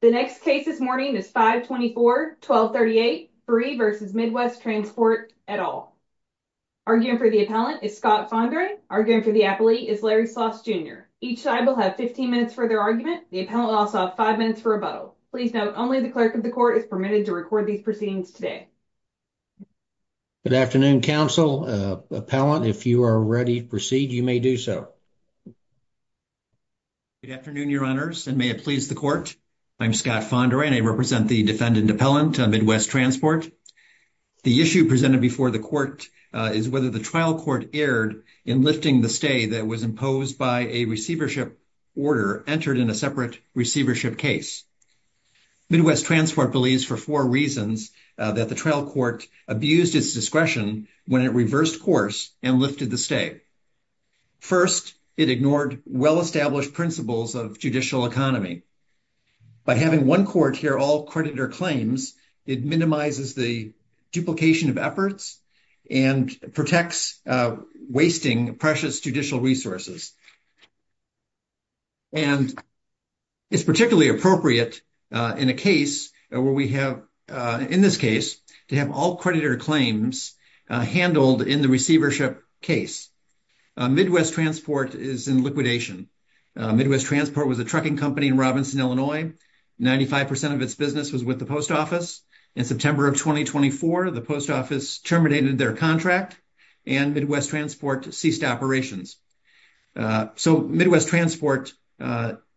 The next case this morning is 524-1238, Brie v. Midwest Transport, et al. Arguing for the appellant is Scott Fondry. Arguing for the appellee is Larry Sloss, Jr. Each side will have 15 minutes for their argument. The appellant will also have five minutes for rebuttal. Please note, only the clerk of the court is permitted to record these proceedings today. Good afternoon, counsel. Appellant, if you are ready to proceed, you may do so. Good afternoon, your honors, and may it please I'm Scott Fondry, and I represent the defendant appellant, Midwest Transport. The issue presented before the court is whether the trial court erred in lifting the stay that was imposed by a receivership order entered in a separate receivership case. Midwest Transport believes for four reasons that the trial court abused its discretion when it reversed course and lifted the stay. First, it ignored well-established principles of judicial economy. By having one court hear all creditor claims, it minimizes the duplication of efforts and protects wasting precious judicial resources. And it's particularly appropriate in a case where we have, in this case, to have all creditor claims handled in the receivership case. Midwest Transport is in Midwest Transport was a trucking company in Robinson, Illinois. 95% of its business was with the post office. In September of 2024, the post office terminated their contract, and Midwest Transport ceased operations. So, Midwest Transport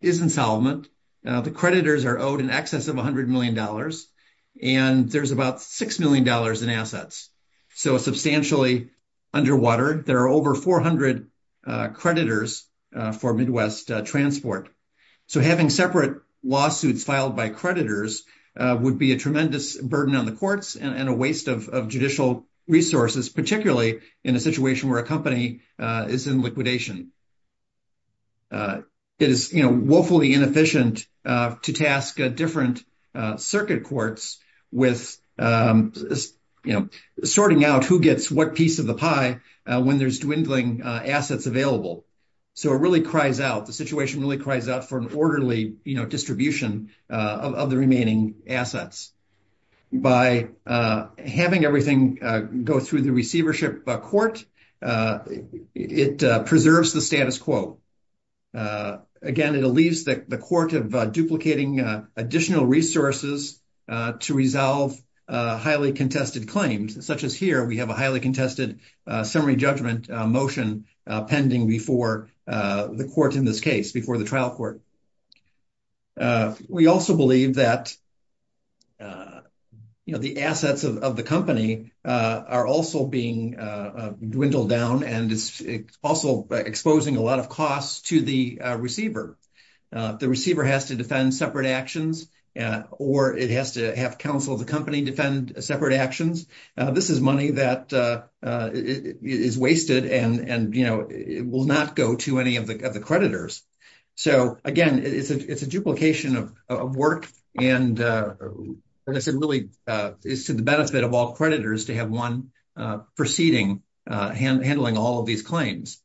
is insolvent. The creditors are owed in excess of $100 million, and there's about $6 million in assets. So, substantially underwater, there are over 400 creditors for Midwest Transport. So, having separate lawsuits filed by creditors would be a tremendous burden on the courts and a waste of judicial resources, particularly in a situation where a company is in liquidation. It is woefully inefficient to task different circuit courts with sorting out who gets what of the pie when there's dwindling assets available. So, it really cries out, the situation really cries out for an orderly distribution of the remaining assets. By having everything go through the receivership court, it preserves the status quo. Again, it leaves the court of duplicating additional resources to resolve highly contested claims, such as here, we have a highly contested summary judgment motion pending before the court in this case, before the trial court. We also believe that the assets of the company are also being dwindled down, and it's also exposing a lot of costs to the receiver. The receiver has to defend separate actions, or it has to have counsel of the company defend separate actions. This is money that is wasted and will not go to any of the creditors. So, again, it's a duplication of work and, as I said, really is to the benefit of all creditors to have one proceeding handling all of these claims.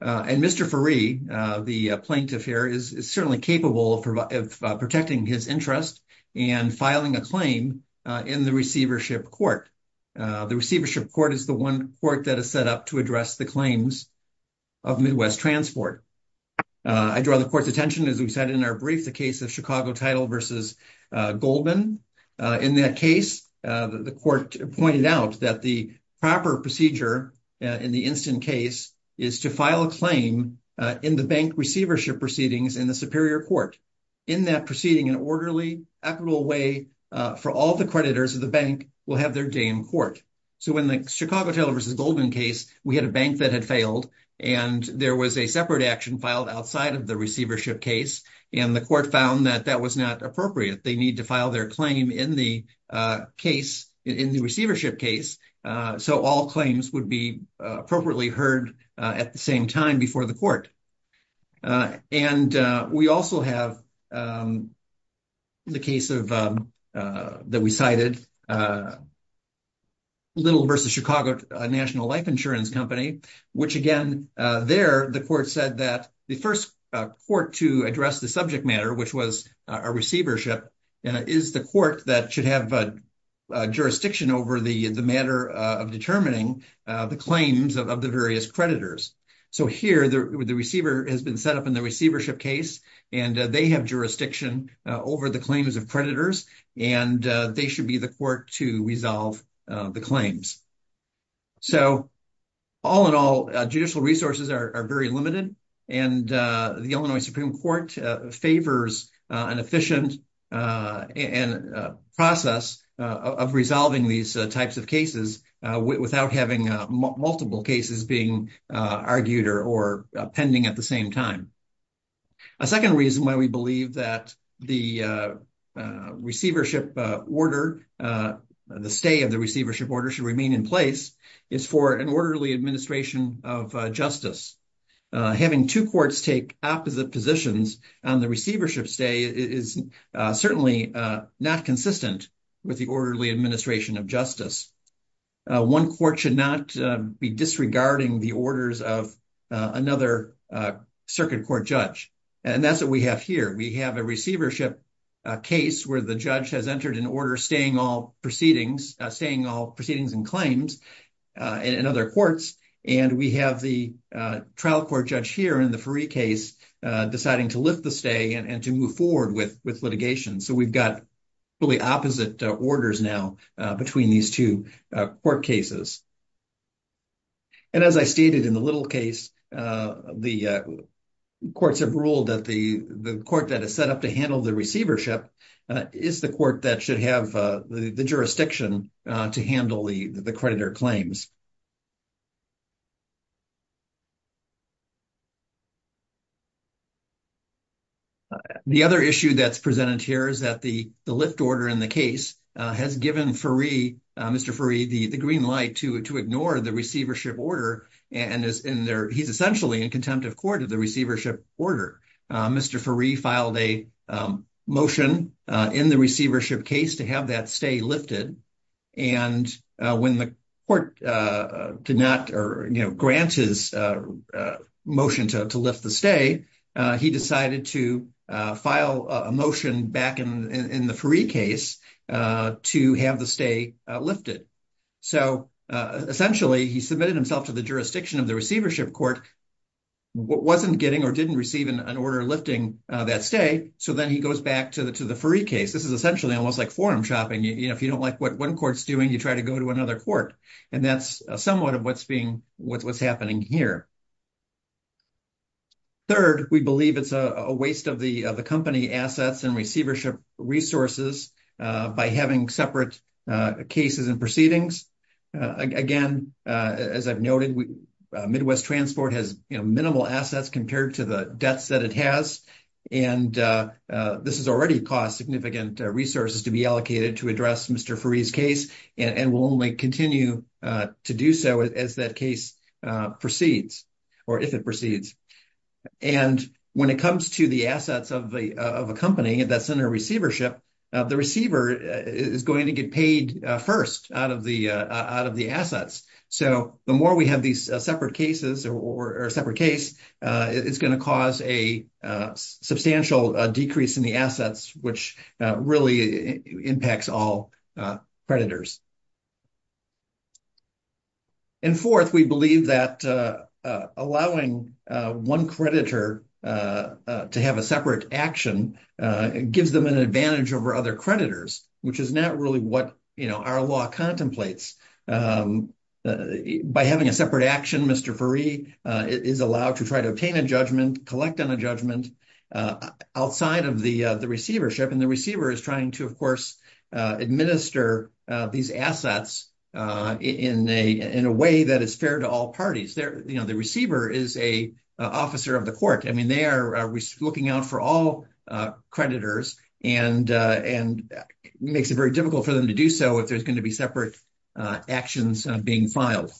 And Mr. Feree, the plaintiff here, is certainly capable of protecting his interest and filing a claim in the receivership court. The receivership court is the one court that is set up to address the claims of Midwest Transport. I draw the court's attention, as we said in our brief, the case of Chicago Title versus Goldman. In that case, the court pointed out that the proper procedure in the instant case is to file a claim in the bank receivership proceedings in the superior court. In that proceeding, an orderly equitable way for all the creditors of the bank will have their day in court. So, in the Chicago Title versus Goldman case, we had a bank that had failed, and there was a separate action filed outside of the receivership case, and the court found that that was not appropriate. They need to file their claim in the case, in the receivership case, so all claims would be appropriately heard at the same time before the court. And we also have the case that we cited, Little versus Chicago National Life Insurance Company, which again, there the court said that the first court to address the subject matter, which was a receivership, is the court that should have jurisdiction over the matter of determining the claims of the various creditors. So here, the receiver has been set up in the receivership case, and they have jurisdiction over the claims of creditors, and they should be the court to resolve the claims. So, all in all, judicial resources are very limited, and the Illinois Supreme Court favors an efficient process of resolving these types of cases without having multiple cases being argued or pending at the same time. A second reason why we believe that the receivership order, the stay of the receivership should remain in place, is for an orderly administration of justice. Having two courts take opposite positions on the receivership stay is certainly not consistent with the orderly administration of justice. One court should not be disregarding the orders of another circuit court judge, and that's what we have here. We have a receivership case where the trial court judge has entered an order staying all proceedings and claims in other courts, and we have the trial court judge here in the Feree case deciding to lift the stay and to move forward with litigation. So we've got really opposite orders now between these two court cases. And as I stated in the little case, the courts have ruled that the court that is set up to handle the receivership is the court that should have the jurisdiction to handle the creditor claims. The other issue that's presented here is that the lift order in the case has given Mr. Feree the green light to ignore the receivership order, and he's essentially in contempt of court of the motion in the receivership case to have that stay lifted. And when the court did not grant his motion to lift the stay, he decided to file a motion back in the Feree case to have the stay lifted. So essentially, he submitted himself to the jurisdiction of the receivership court, wasn't getting or didn't receive an order lifting that stay, so then he goes back to the Feree case. This is essentially almost like forum shopping. If you don't like what one court's doing, you try to go to another court, and that's somewhat of what's happening here. Third, we believe it's a waste of the company assets and receivership resources by having separate cases and proceedings. Again, as I've noted, Midwest Transport has minimal assets compared to the debts that it has, and this has already cost significant resources to be allocated to address Mr. Feree's case and will only continue to do so as that case proceeds or if it proceeds. And when it comes to the assets of a company that's under receivership, the receiver is going to get paid first out of the assets. So the more we have these separate cases or a separate case, it's going to cause a substantial decrease in the assets, which really impacts all creditors. And fourth, we believe that allowing one creditor to have a separate action gives them an advantage over other creditors, which is not really what our law contemplates. By having a separate action, Mr. Feree is allowed to try to obtain a judgment, collect on a judgment outside of the receivership, and the receiver is trying to, of course, administer these assets in a way that is fair to all parties. The receiver is an officer of the court. They are looking out for all creditors, and it makes it very difficult for them to do so if there's going to be separate actions being filed.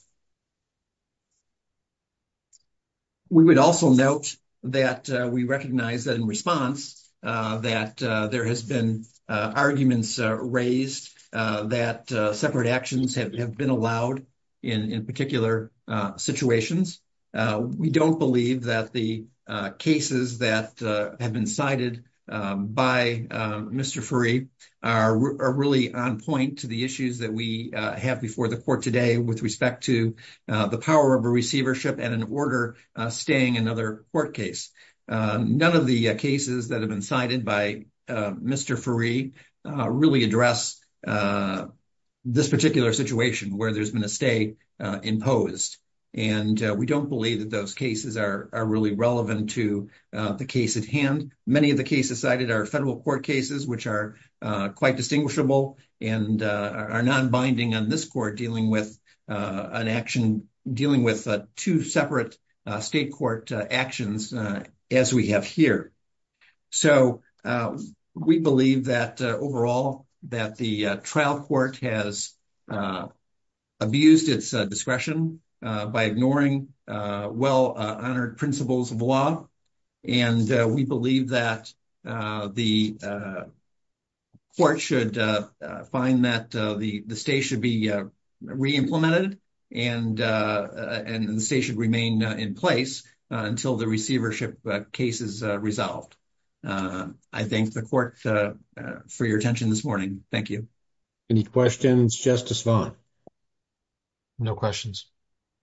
We would also note that we recognize that in response that there has been arguments raised that separate actions have been allowed in particular situations. We don't believe that the cases that have been cited by Mr. Feree are really on point to the issues that we have before the court today with respect to the power of a receivership and an order staying another court case. None of the cases that have been cited by Mr. Feree really address this particular situation where there's been a stay imposed, and we don't believe that those cases are really relevant to the case at hand. Many of the cases cited are federal court cases, which are quite distinguishable and are non-binding on this court with an action dealing with two separate state court actions as we have here. So, we believe that overall that the trial court has abused its discretion by ignoring well-honored principles of law, and we believe that the court should find that the stay should be re-implemented and the stay should remain in place until the receivership case is resolved. I thank the court for your attention this morning. Thank you. Any questions, Justice Vaughn? No questions.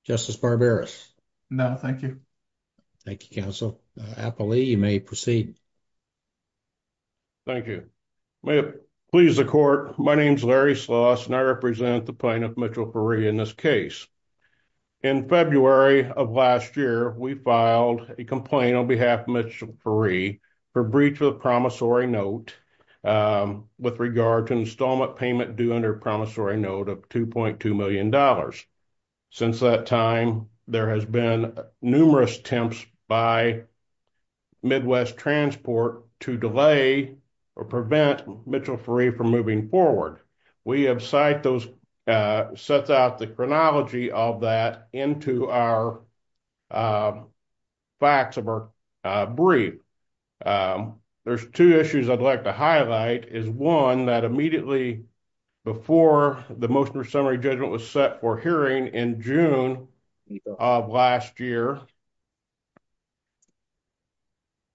Justice Barberis? No, thank you. Thank you, counsel. Applee, you may proceed. Thank you. May it please the court, my name is Larry Sloss, and I represent the plaintiff, Mitchell Feree, in this case. In February of last year, we filed a complaint on behalf of Mitchell Feree for breach of the promissory note with regard to installment payment due under promissory note of $2.2 million. Since that time, there has been numerous attempts by Midwest Transport to delay or prevent Mitchell Feree from moving forward. We have cite those, set out the chronology of that into our facts of our brief. There's two issues I'd like to highlight is one that immediately before the motion for summary judgment was set for hearing in June of last year,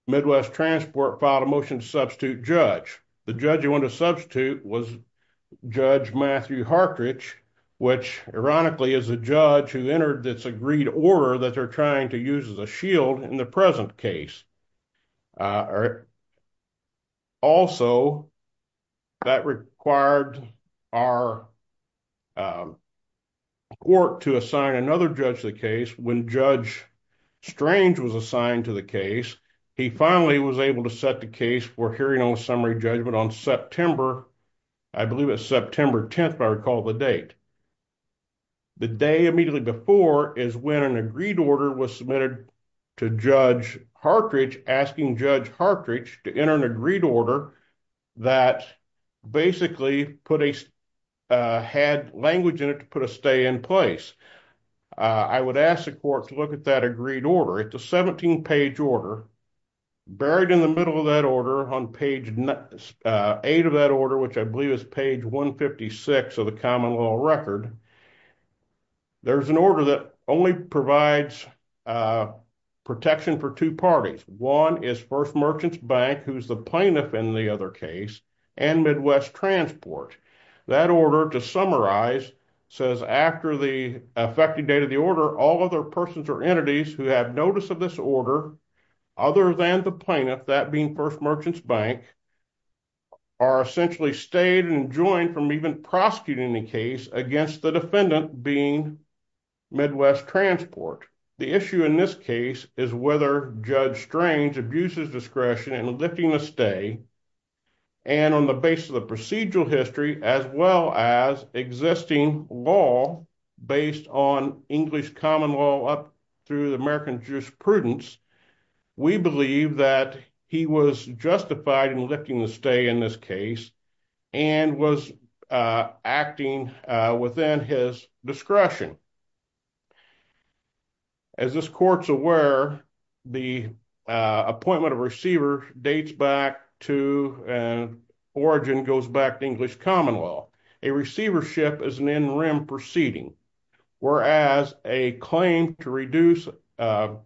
Midwest Transport filed a motion to substitute judge. The judge you want to substitute was Judge Matthew Hartrich, which ironically is a judge who entered this agreed order that they're trying to use as a shield in the present case. Also, that required our court to assign another judge to the case. When Judge Strange was assigned to the case, he finally was able to set the case for hearing on summary judgment on September, I believe it's September 10th, if I recall the date. The day immediately before is when an agreed order was submitted to Judge Hartrich, asking Judge Hartrich to enter an agreed order that basically had language in it to put a stay in place. I would ask the court to look at that agreed order. It's a 17 page order, buried in the middle of that order on page eight of that order, which I believe is page 156 of the common law record. There's an order that only provides protection for two parties. One is First Merchants Bank, who's the plaintiff in the other case, and Midwest Transport. That order, to summarize, says after the effective date of the order, all other persons or entities who have notice of this order, other than the plaintiff, that being First Merchants Bank, are essentially stayed and enjoined from even prosecuting the case against the defendant being Midwest Transport. The issue in this case is whether Judge Strange abuses discretion in lifting the stay, and on the basis of the procedural history, as well as existing law based on English common law up through the American jurisprudence, we believe that he was justified in lifting the stay in this and was acting within his discretion. As this court's aware, the appointment of receiver dates back to origin goes back to English common law. A receivership is an in rem proceeding, whereas a claim to reduce or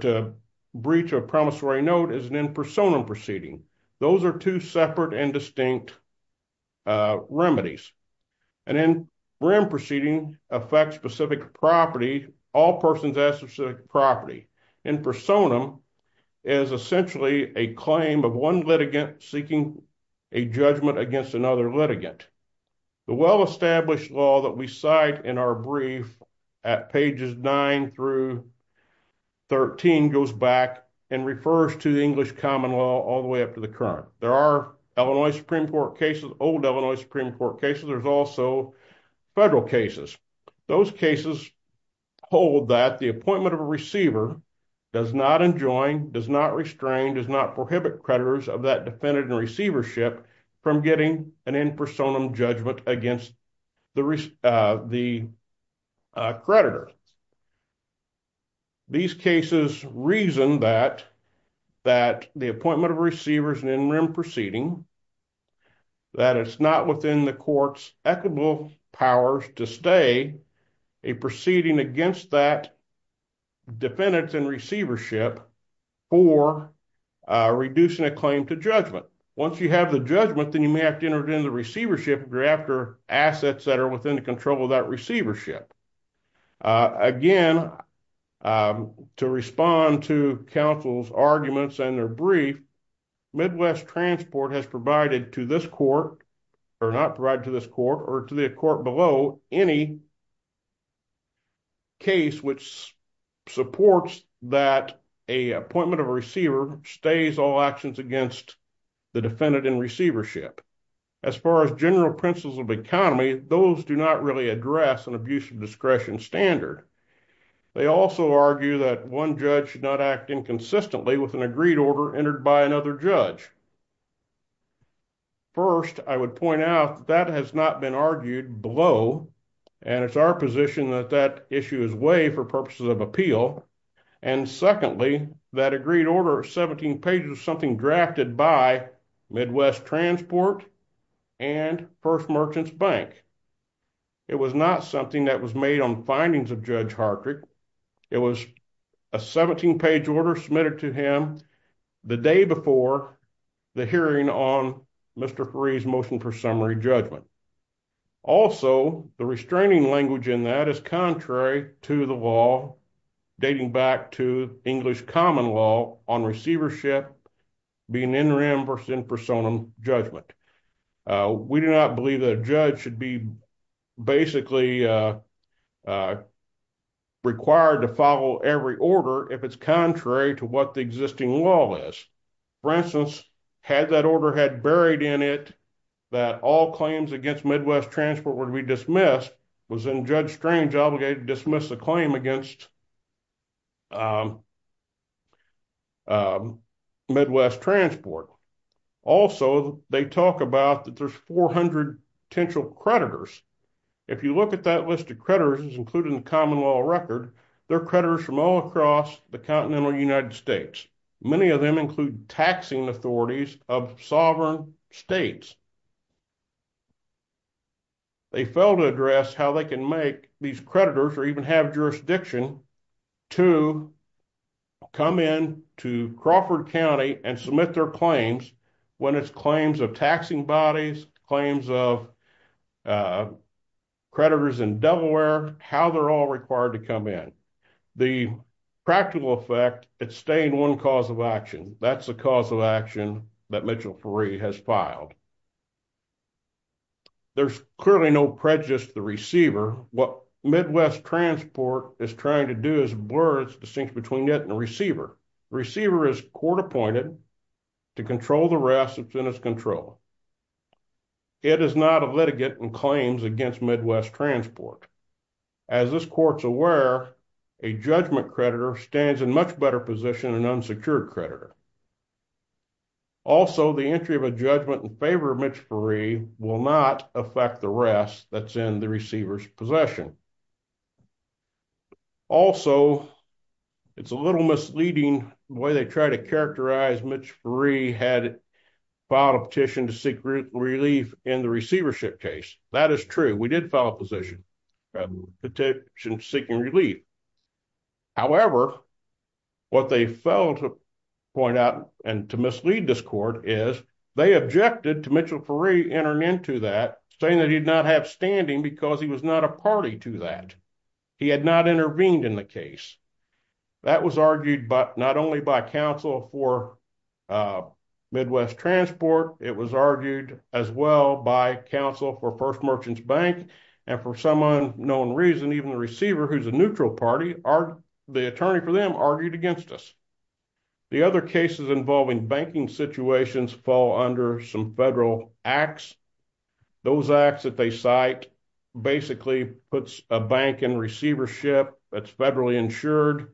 to breach a promissory note is an in personam proceeding. Those are two separate and distinct remedies. An in rem proceeding affects specific property, all persons have specific property. In personam is essentially a claim of one litigant seeking a judgment against another litigant. The well established law that we cite in our brief at pages nine through 13 goes back and refers to the English common law all the way up to the current. There are Illinois Supreme Court cases, old Illinois Supreme Court cases, there's also federal cases. Those cases hold that the appointment of a receiver does not enjoin, does not restrain, does not prohibit creditors of that defendant and receivership from getting an in personam judgment against the creditor. These cases reason that the appointment of receivers and in rem proceeding, that it's not within the court's equitable powers to stay a proceeding against that defendant and receivership for reducing a claim to judgment. Once you have the judgment, then you may have to enter it into receivership thereafter assets that are within the control of that receivership. Again, to respond to counsel's arguments and their brief, Midwest Transport has provided to this court, or not provided to this court or to the court below, any case which supports that a appointment of a receiver stays all actions against the defendant and receivership. As far as general principles of economy, those do not really address an abuse of discretion standard. They also argue that one judge should not act inconsistently with an agreed order entered by another judge. First, I would point out that has not been argued below, and it's our position that that issue is way for purposes of appeal. And secondly, that agreed order 17 pages, something drafted by Midwest Transport and First Merchants Bank. It was not something that was made on findings of Judge Hartrick. It was a 17 page order submitted to him the day before the court's appointment. The hearing on Mr. Faree's motion for summary judgment. Also, the restraining language in that is contrary to the law, dating back to English common law on receivership being in personam judgment. We do not believe that a judge should be basically required to follow every order if it's contrary to what the existing law is. For instance, had that order had buried in it that all claims against Midwest Transport would be dismissed, was then Judge Strange obligated to dismiss the claim against Midwest Transport. Also, they talk about that there's 400 potential creditors. If you look at that list of creditors, including the common law record, they're creditors from all across the continental United States. Many of them include taxing authorities of sovereign states. They failed to address how they can make these creditors or even have jurisdiction to come in to Crawford County and submit their claims when it's claims of taxing bodies, claims of creditors in Delaware, how they're all required to come in. The practical effect, it's staying one cause of action. That's the cause of action that Mitchell Faree has filed. There's clearly no prejudice to the receiver. What Midwest Transport is trying to do is blur its distinction between it and the receiver. The receiver is court appointed to control the rest control. It is not a litigant in claims against Midwest Transport. As this court's aware, a judgment creditor stands in much better position than an unsecured creditor. Also, the entry of a judgment in favor of Mitch Faree will not affect the rest that's in the receiver's possession. Also, it's a little misleading the way they try to characterize Mitch Faree had filed a petition to seek relief in the receivership case. That is true. We did file a petition seeking relief. However, what they failed to point out and to mislead this court is they objected to Mitchell Faree entering into that saying that he'd not have standing because he was not a party to that. He had not intervened in the case. That was argued not only by counsel for Midwest Transport. It was argued as well by counsel for First Merchants Bank. For some unknown reason, even the receiver, who's a neutral party, the attorney for them argued against us. The other cases involving banking situations fall under some federal acts. Those acts that they cite basically puts a bank in receivership that's federally insured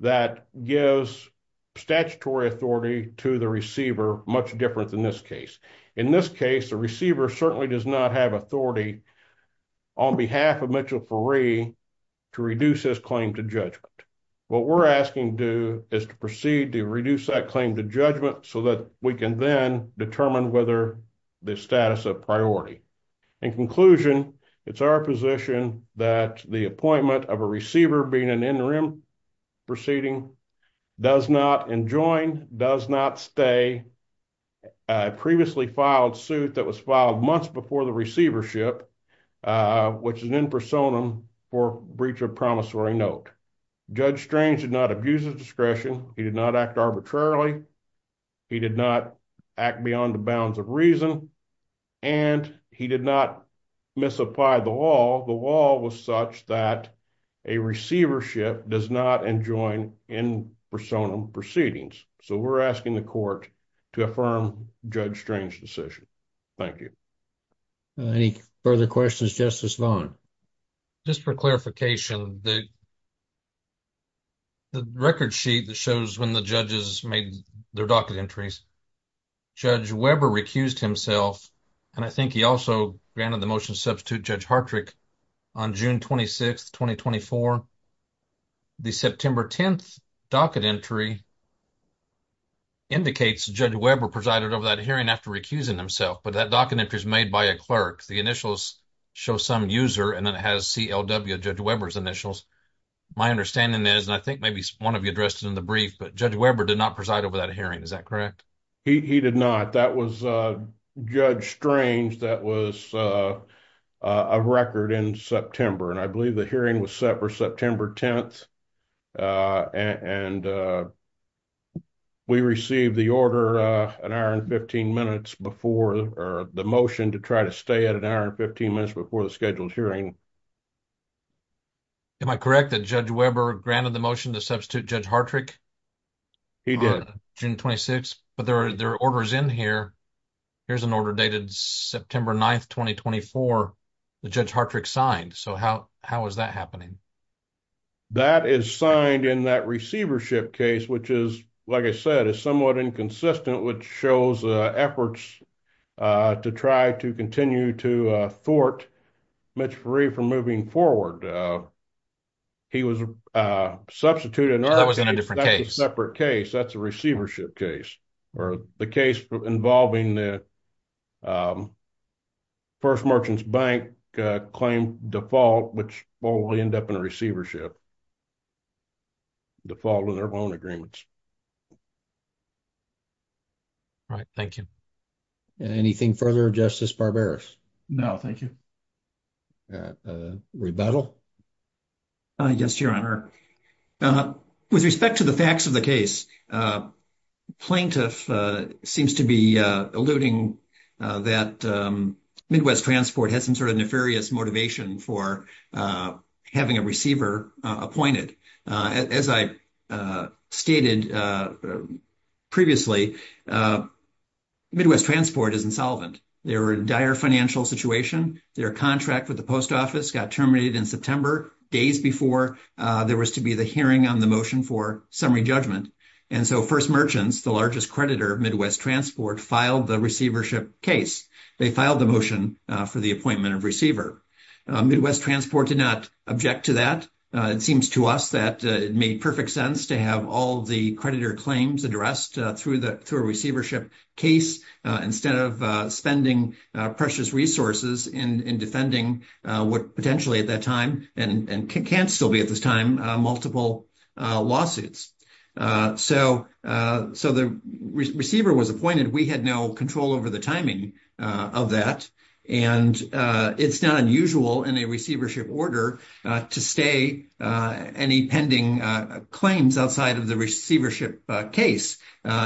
that gives statutory authority to the receiver much different than this case. In this case, the receiver certainly does not have authority on behalf of Mitchell Faree to reduce his claim to judgment. What we're asking to do is to proceed to reduce that claim to judgment so that we can then determine whether the status of In conclusion, it's our position that the appointment of a receiver being an interim proceeding does not enjoin, does not stay a previously filed suit that was filed months before the receivership, which is an impersonum for breach of promissory note. Judge Strange did not abuse his discretion. He did not act arbitrarily. He did not act beyond the bounds of reason. He did not misapply the law. The law was such that a receivership does not enjoin impersonum proceedings. We're asking the court to affirm Judge Strange's decision. Thank you. Any further questions, Justice Vaughn? Just for clarification, the record sheet that shows when the judges made their docket entries, Judge Weber recused himself, and I think he also granted the motion to substitute Judge Hartrick on June 26, 2024. The September 10th docket entry indicates Judge Weber presided over that hearing after recusing himself, but that docket entry is made by a clerk. The initials show some user, and then it has CLW, Judge Weber's initials. My understanding is, and I think maybe one of you addressed it in the brief, but Judge Weber did not preside over that hearing. Is that correct? He did not. That was Judge Strange that was a record in September, and I believe the hearing was set for September 10th, and we received the order an hour and 15 minutes before, or the motion to try to stay at an hour and 15 minutes before the scheduled hearing. Am I correct that Judge Weber granted the motion to substitute Judge Hartrick He did. June 26th, but there are orders in here. Here's an order dated September 9th, 2024, that Judge Hartrick signed. So, how is that happening? That is signed in that receivership case, which is, like I said, is somewhat inconsistent, which shows efforts to try to continue to thwart Mitch Ferree from moving forward. He was substituted. That was in a different case. That's a separate case. That's a receivership case, or the case involving the First Merchants Bank claim default, which will end up in a receivership default on their loan agreements. All right, thank you. Anything further, Justice Barberis? No, thank you. Rebuttal? Yes, Your Honor. With respect to the facts of the case, plaintiff seems to be alluding that Midwest Transport had some sort of nefarious motivation for having a receiver appointed. As I stated previously, Midwest Transport is insolvent. They were in a dire financial situation. Their contract with the post office got terminated in September, days before there was to be the hearing on the motion for summary judgment. And so, First Merchants, the largest creditor of Midwest Transport, filed the receivership case. They filed the motion for the appointment of receiver. Midwest Transport did not object to that. It seems to us that it made perfect sense to have all the creditor claims addressed through a receivership case, instead of spending precious resources in defending what potentially at that time, and can still be at this time, multiple lawsuits. So the receiver was appointed. We had no control over the timing of that. And it's not unusual in a receivership order to stay any pending claims outside of the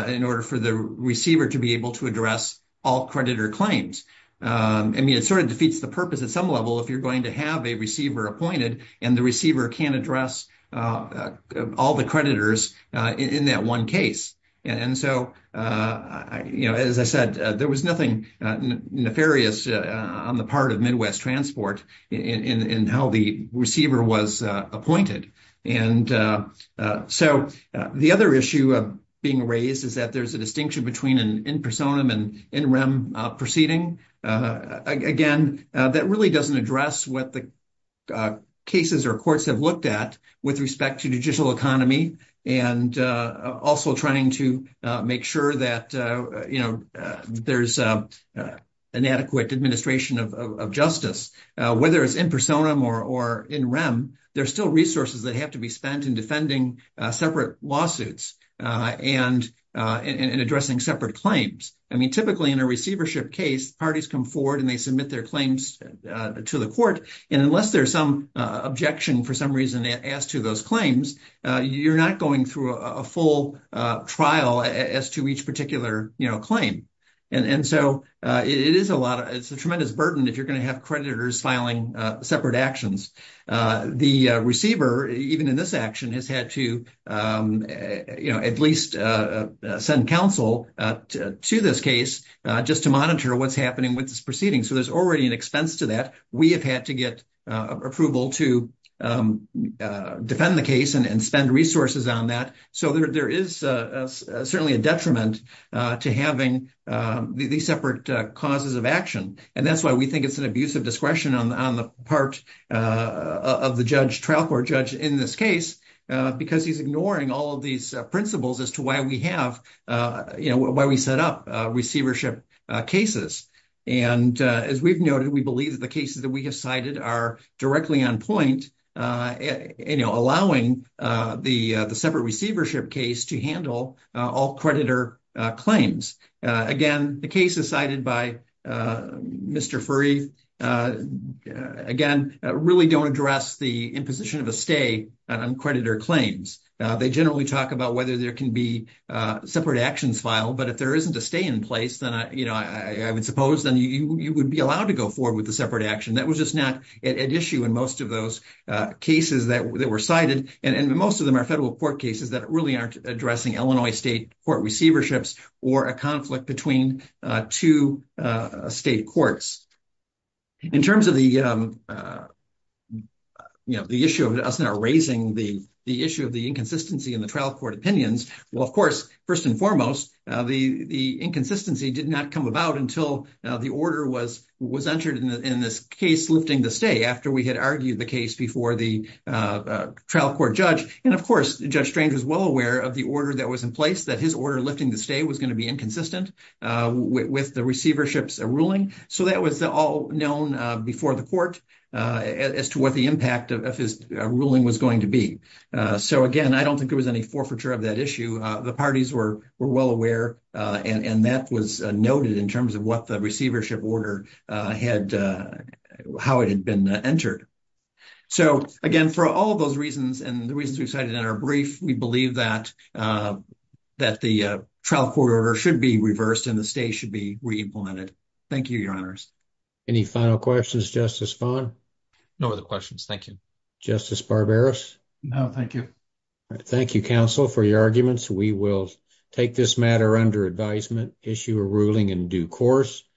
in order for the receiver to be able to address all creditor claims. I mean, it sort of defeats the purpose at some level, if you're going to have a receiver appointed and the receiver can address all the creditors in that one case. And so, as I said, there was nothing nefarious on the part of Midwest Transport in how the receiver was appointed. And so the other issue being raised is that there's a distinction between an in personam and in rem proceeding. Again, that really doesn't address what the cases or courts have looked at with respect to judicial economy. And also trying to make sure that, you know, there's an adequate administration of justice, whether it's in personam or in rem, there's still resources that have to be spent in defending separate lawsuits and in addressing separate claims. I mean, typically, in a receivership case, parties come forward and they submit their claims to the court. And unless there's some objection, for some reason, asked to those claims, you're not going through a full trial as to each particular claim. And so it's a tremendous burden if you're going to have creditors filing separate actions. The receiver, even in this action, has had to, you know, at least send counsel to this case just to monitor what's happening with this proceeding. So there's already an expense to that. We have had to get approval to defend the case and spend resources on that. So there is certainly a detriment to having these separate causes of action. And that's why we think it's an abuse of discretion on the part of the trial court judge in this case, because he's ignoring all of these principles as to why we have, you know, why we set up receivership cases. And as we've noted, we believe that the cases that we have cited are directly on point, you know, allowing the separate receivership case to handle all creditor claims. Again, the cases cited by Mr. Furry, again, really don't address the imposition of a stay on creditor claims. They generally talk about whether there can be separate actions filed. But if there isn't a stay in place, then, you know, I would suppose, you would be allowed to go forward with a separate action. That was just not at issue in most of those cases that were cited. And most of them are federal court cases that really aren't addressing Illinois state court receiverships or a conflict between two state courts. In terms of the, you know, the issue of us not raising the issue of the inconsistency in the trial court opinions, well, of course, first and foremost, the inconsistency did not come about until the order was entered in this case lifting the stay after we had argued the case before the trial court judge. And of course, Judge Strange was well aware of the order that was in place, that his order lifting the stay was going to be inconsistent with the receivership's ruling. So that was all known before the court as to what the impact of his ruling was going to be. So again, I don't think there was any forfeiture of that issue. The parties were well aware, and that was noted in terms of what the receivership order had, how it had been entered. So again, for all those reasons and the reasons we cited in our brief, we believe that the trial court order should be reversed and the stay should be re-implemented. Thank you, Your Honors. Any final questions, Justice Fahn? No other questions, thank you. Justice Barberos? No, thank you. Thank you, counsel, for your arguments. We will take this matter under advisement, issue a ruling in due course.